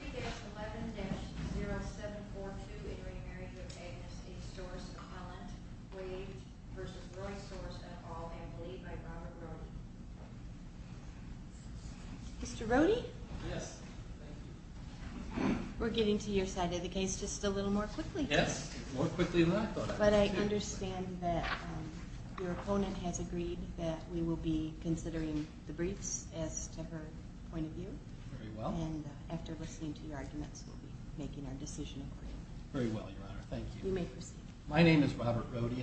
3-11-0742 In Re Marriage of Agnes A. Sorce of Holland, Wade v. Royce Sorce, et al., M.V. by Robert Rohde.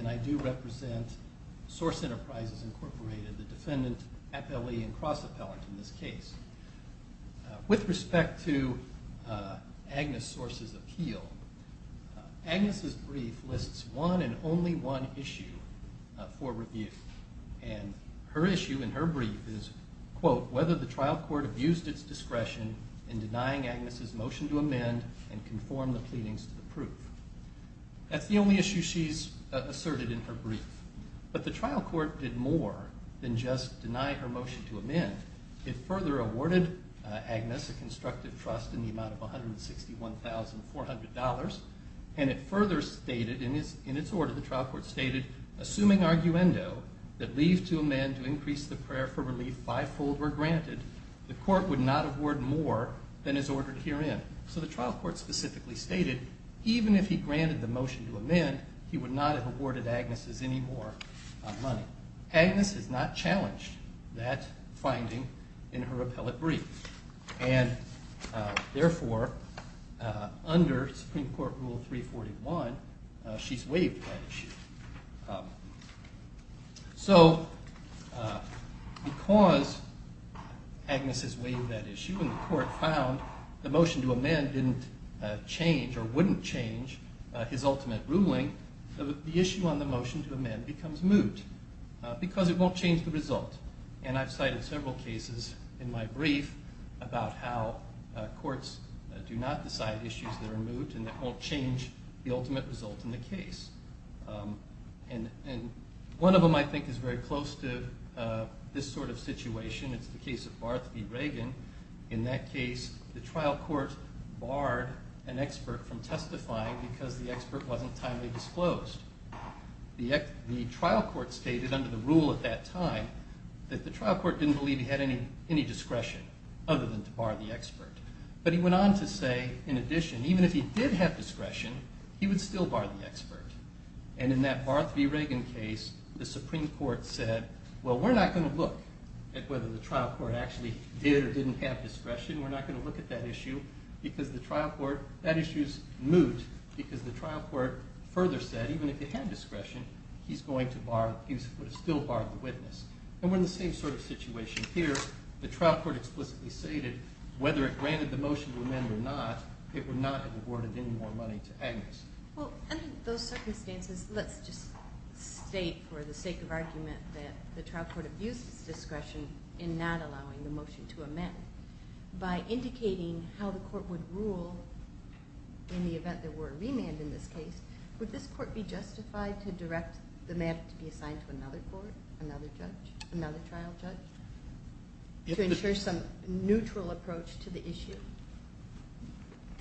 I do represent Source Enterprises, Inc., the defendant, appellee, and cross-appellant in this case. With respect to Agnes Sorce's appeal, Agnes' brief lists one and only one issue for review. And her issue in her brief is, quote, whether the trial court abused its discretion in denying Agnes' motion to amend and conform the pleadings to the proof. That's the only issue she's asserted in her brief. But the trial court did more than just deny her motion to amend. It further awarded Agnes a constructive trust in the amount of $161,400. And it further stated in its order, the trial court stated, assuming arguendo that leave to amend to increase the prayer for relief fivefold were granted, the court would not award more than is ordered herein. So the trial court specifically stated, even if he granted the motion to amend, he would not have awarded Agnes any more money. Agnes has not challenged that finding in her appellate brief. And therefore, under Supreme Court Rule 341, she's waived that issue. So because Agnes has waived that issue and the court found the motion to amend didn't change or wouldn't change his ultimate ruling, the issue on the motion to amend becomes moot because it won't change the result. And I've cited several cases in my brief about how courts do not decide issues that are moot and that won't change the ultimate result in the case. And one of them, I think, is very close to this sort of situation. It's the case of Barth v. Reagan. In that case, the trial court barred an expert from testifying because the expert wasn't timely disclosed. The trial court stated under the rule at that time that the trial court didn't believe he had any discretion other than to bar the expert. But he went on to say, in addition, even if he did have discretion, he would still bar the expert. And in that Barth v. Reagan case, the Supreme Court said, well, we're not going to look at whether the trial court actually did or didn't have discretion. We're not going to look at that issue because the trial court – that issue is moot because the trial court further said, even if he had discretion, he's going to bar – he would still bar the witness. And we're in the same sort of situation here. The trial court explicitly stated whether it granted the motion to amend or not, it would not have awarded any more money to Agnes. Well, under those circumstances, let's just state for the sake of argument that the trial court abused its discretion in not allowing the motion to amend. By indicating how the court would rule in the event there were a remand in this case, would this court be justified to direct the matter to be assigned to another court, another judge, another trial judge, to ensure some neutral approach to the issue?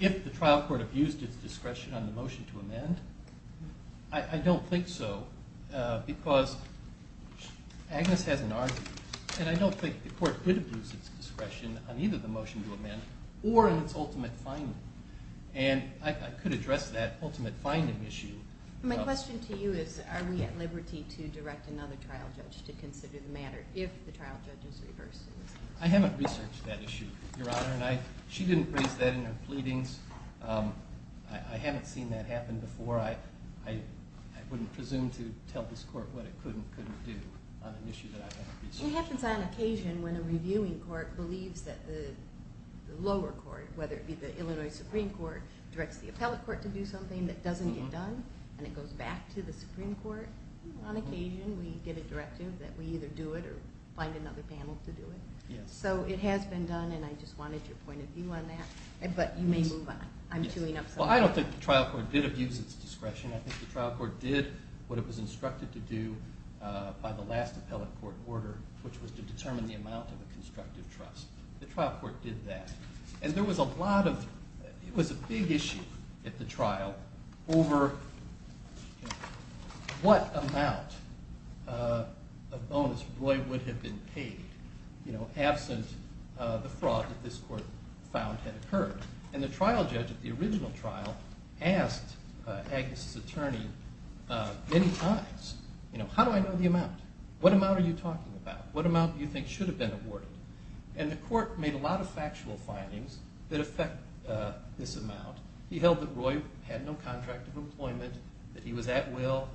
If the trial court abused its discretion on the motion to amend, I don't think so because Agnes has an argument. And I don't think the court could abuse its discretion on either the motion to amend or in its ultimate finding. And I could address that ultimate finding issue. My question to you is, are we at liberty to direct another trial judge to consider the matter if the trial judge is reversed in this case? I haven't researched that issue, Your Honor. And she didn't raise that in her pleadings. I haven't seen that happen before. I wouldn't presume to tell this court what it could and couldn't do on an issue that I haven't researched. It happens on occasion when a reviewing court believes that the lower court, whether it be the Illinois Supreme Court, directs the appellate court to do something that doesn't get done. And it goes back to the Supreme Court on occasion. We get a directive that we either do it or find another panel to do it. So it has been done, and I just wanted your point of view on that. But you may move on. I'm chewing up something. Well, I don't think the trial court did abuse its discretion. I think the trial court did what it was instructed to do by the last appellate court order, which was to determine the amount of a constructive trust. The trial court did that. And there was a lot of – it was a big issue at the trial over what amount of bonus Roy would have been paid absent the fraud that this court found had occurred. And the trial judge at the original trial asked Agnes' attorney many times, how do I know the amount? What amount are you talking about? What amount do you think should have been awarded? And the court made a lot of factual findings that affect this amount. He held that Roy had no contract of employment, that he was at will,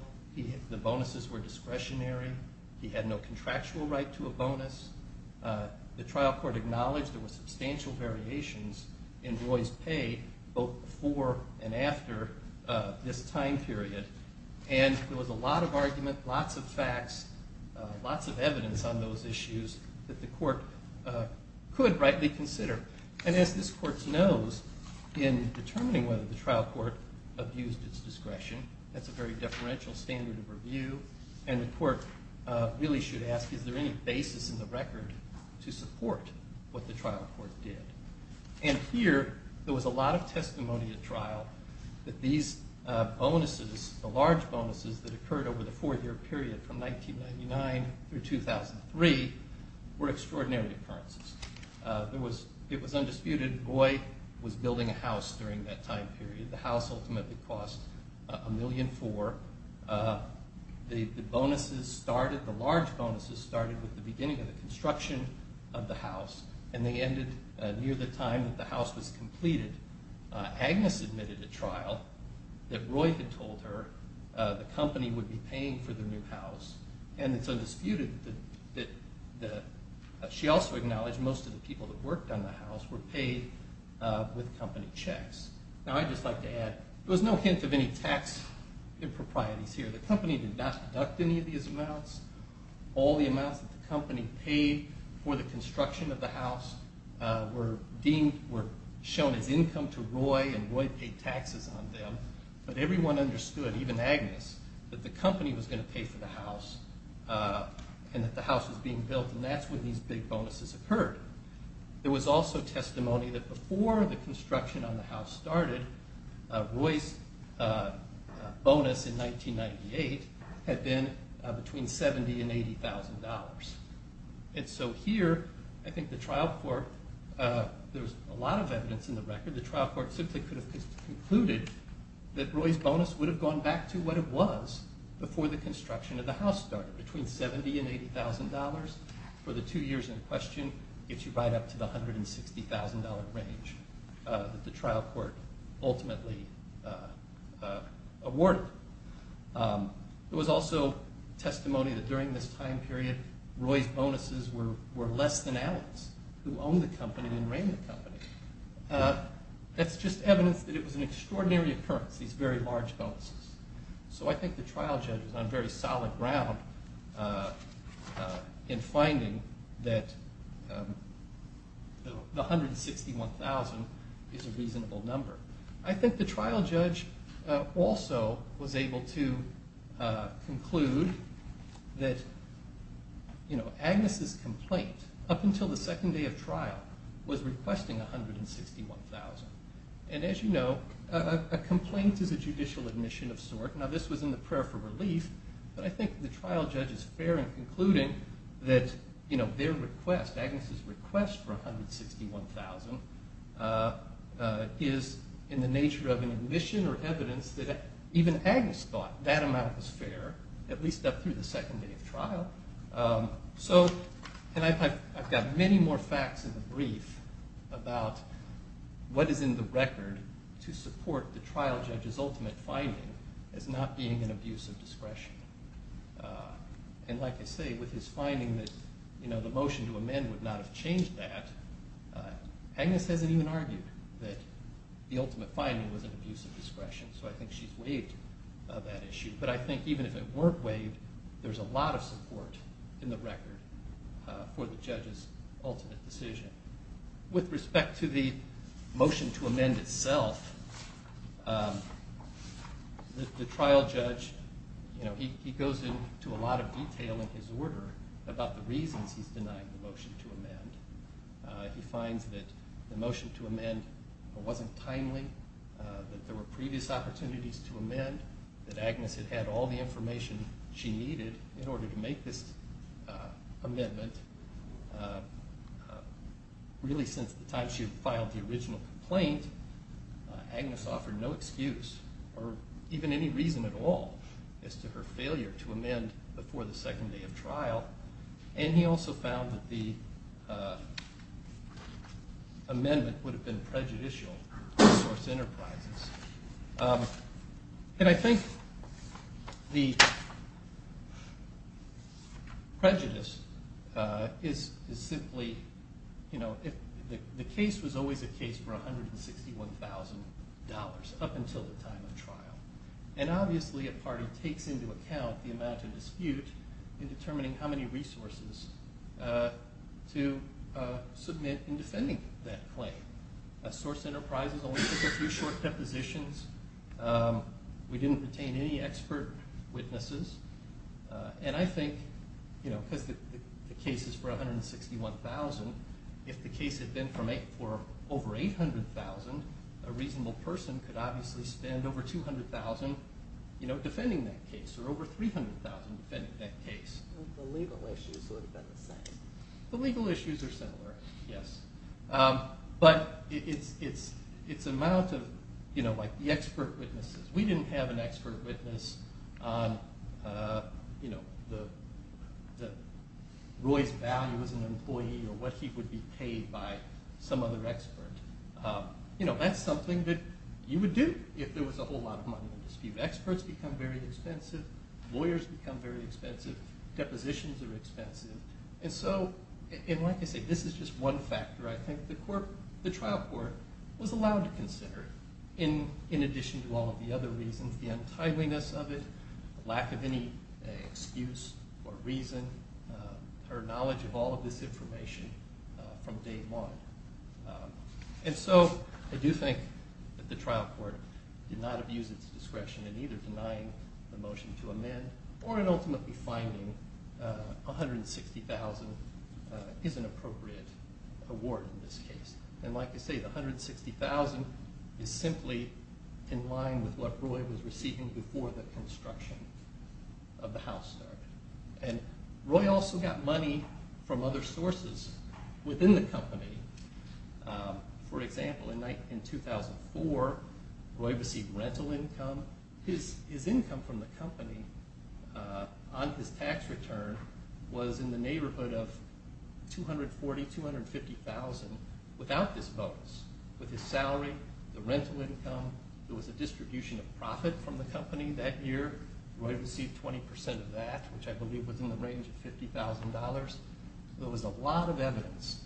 the bonuses were discretionary, he had no contractual right to a bonus. The trial court acknowledged there were substantial variations in Roy's pay both before and after this time period. And there was a lot of argument, lots of facts, lots of evidence on those issues that the court could rightly consider. And as this court knows, in determining whether the trial court abused its discretion, that's a very deferential standard of review. And the court really should ask, is there any basis in the record to support what the trial court did? And here, there was a lot of testimony at trial that these bonuses, the large bonuses that occurred over the four-year period from 1999 through 2003 were extraordinary occurrences. It was undisputed Roy was building a house during that time period. The house ultimately cost $1.4 million. The bonuses started, the large bonuses started with the beginning of the construction of the house, and they ended near the time that the house was completed. Agnes admitted at trial that Roy had told her the company would be paying for the new house. And it's undisputed that she also acknowledged most of the people that worked on the house were paid with company checks. Now, I'd just like to add, there was no hint of any tax improprieties here. The company did not deduct any of these amounts. All the amounts that the company paid for the construction of the house were deemed, were shown as income to Roy, and Roy paid taxes on them. But everyone understood, even Agnes, that the company was going to pay for the house, and that the house was being built, and that's when these big bonuses occurred. There was also testimony that before the construction on the house started, Roy's bonus in 1998 had been between $70,000 and $80,000. And so here, I think the trial court, there was a lot of evidence in the record. The trial court simply could have concluded that Roy's bonus would have gone back to what it was before the construction of the house started, between $70,000 and $80,000 for the two years in question, gets you right up to the $160,000 range that the trial court ultimately awarded. There was also testimony that during this time period, Roy's bonuses were less than Agnes, who owned the company and ran the company. That's just evidence that it was an extraordinary occurrence, these very large bonuses. So I think the trial judge was on very solid ground in finding that the $161,000 is a reasonable number. I think the trial judge also was able to conclude that Agnes' complaint, up until the second day of trial, was requesting $161,000. And as you know, a complaint is a judicial admission of sort. Now, this was in the prayer for relief, but I think the trial judge is fair in concluding that their request, Agnes' request for $161,000, is in the nature of an admission or evidence that even Agnes thought that amount was fair, at least up through the second day of trial. And I've got many more facts in the brief about what is in the record to support the trial judge's ultimate finding as not being an abuse of discretion. And like I say, with his finding that the motion to amend would not have changed that, Agnes hasn't even argued that the ultimate finding was an abuse of discretion. So I think she's waived of that issue. But I think even if it weren't waived, there's a lot of support in the record for the judge's ultimate decision. With respect to the motion to amend itself, the trial judge goes into a lot of detail in his order about the reasons he's denying the motion to amend. He finds that the motion to amend wasn't timely, that there were previous opportunities to amend, that Agnes had had all the information she needed in order to make this amendment. Really, since the time she had filed the original complaint, Agnes offered no excuse or even any reason at all as to her failure to amend before the second day of trial. And he also found that the amendment would have been prejudicial to Source Enterprises. And I think the prejudice is simply, you know, the case was always a case for $161,000 up until the time of trial. And obviously a party takes into account the amount of dispute in determining how many resources to submit in defending that claim. Source Enterprises only took a few short depositions. We didn't retain any expert witnesses. And I think, you know, because the case is for $161,000, if the case had been for over $800,000, a reasonable person could obviously spend over $200,000 defending that case or over $300,000 defending that case. The legal issues would have been the same. The legal issues are similar, yes. But its amount of, you know, like the expert witnesses. We didn't have an expert witness on, you know, Roy's value as an employee or what he would be paid by some other expert. You know, that's something that you would do if there was a whole lot of money in dispute. Experts become very expensive. Lawyers become very expensive. Depositions are expensive. And so, and like I say, this is just one factor I think the trial court was allowed to consider in addition to all of the other reasons. The untidiness of it, lack of any excuse or reason, her knowledge of all of this information from day one. And so, I do think that the trial court did not abuse its discretion in either denying the motion to amend or in ultimately finding $160,000 is an appropriate award in this case. And like I say, the $160,000 is simply in line with what Roy was receiving before the construction of the house started. And Roy also got money from other sources within the company. For example, in 2004, Roy received rental income. His income from the company on his tax return was in the neighborhood of $240,000, $250,000 without this bonus. With his salary, the rental income, there was a distribution of profit from the company that year. Roy received 20% of that, which I believe was in the range of $50,000. There was a lot of evidence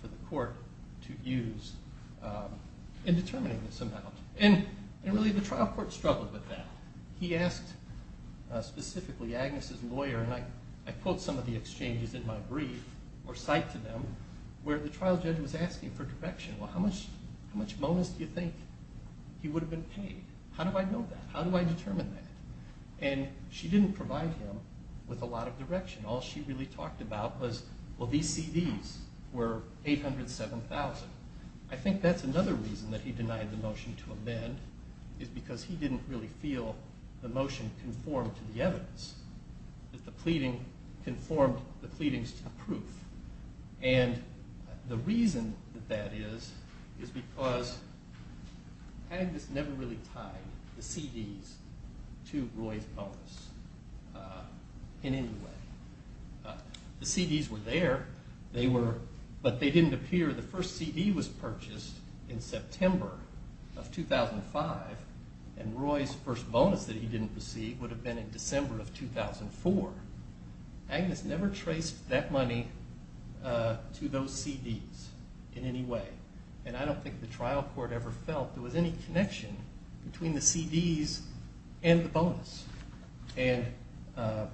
for the court to use in determining this amount. And really, the trial court struggled with that. He asked specifically Agnes's lawyer, and I quote some of the exchanges in my brief or cite to them, where the trial judge was asking for direction. Well, how much bonus do you think he would have been paid? How do I know that? How do I determine that? And she didn't provide him with a lot of direction. All she really talked about was, well, these CDs were $807,000. I think that's another reason that he denied the motion to amend is because he didn't really feel the motion conformed to the evidence, that the pleading conformed the pleadings to the proof. And the reason that that is is because Agnes never really tied the CDs to Roy's bonus in any way. The CDs were there, but they didn't appear. The first CD was purchased in September of 2005, and Roy's first bonus that he didn't receive would have been in December of 2004. Agnes never traced that money to those CDs in any way. And I don't think the trial court ever felt there was any connection between the CDs and the bonus. And the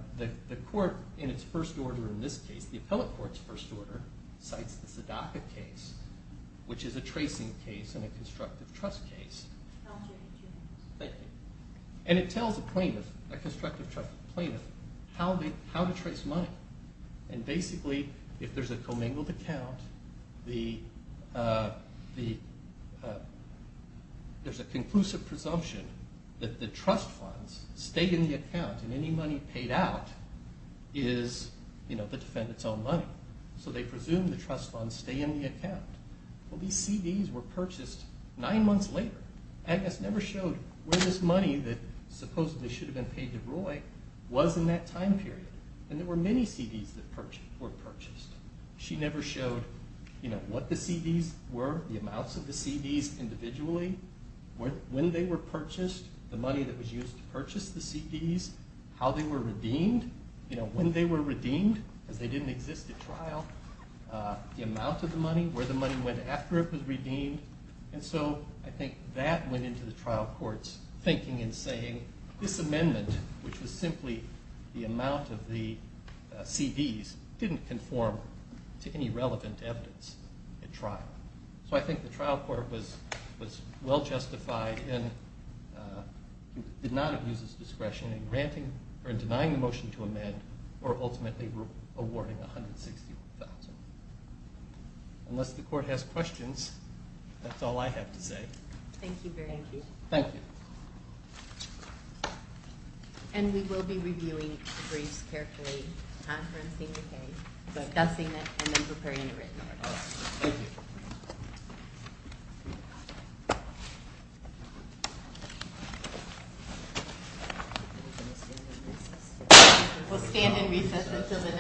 court, in its first order in this case, the appellate court's first order, cites the Sadaka case, which is a tracing case and a constructive trust case. Thank you. And it tells a plaintiff, a constructive plaintiff, how to trace money. And basically, if there's a commingled account, there's a conclusive presumption that the trust funds stay in the account, and any money paid out is the defendant's own money. So they presume the trust funds stay in the account. Well, these CDs were purchased nine months later. Agnes never showed where this money that supposedly should have been paid to Roy was in that time period. And there were many CDs that were purchased. She never showed what the CDs were, the amounts of the CDs individually, when they were purchased, the money that was used to purchase the CDs, how they were redeemed, when they were redeemed, because they didn't exist at trial, the amount of the money, where the money went after it was redeemed. And so I think that went into the trial court's thinking in saying this amendment, which was simply the amount of the CDs, didn't conform to any relevant evidence at trial. So I think the trial court was well-justified in denying the motion to amend or ultimately awarding $160,000. Unless the court has questions, that's all I have to say. Thank you very much. Thank you. Thank you. And we will be reviewing the briefs carefully, conferencing the case, discussing it, and then preparing a written argument. Thank you. We'll stand and recess until the next case.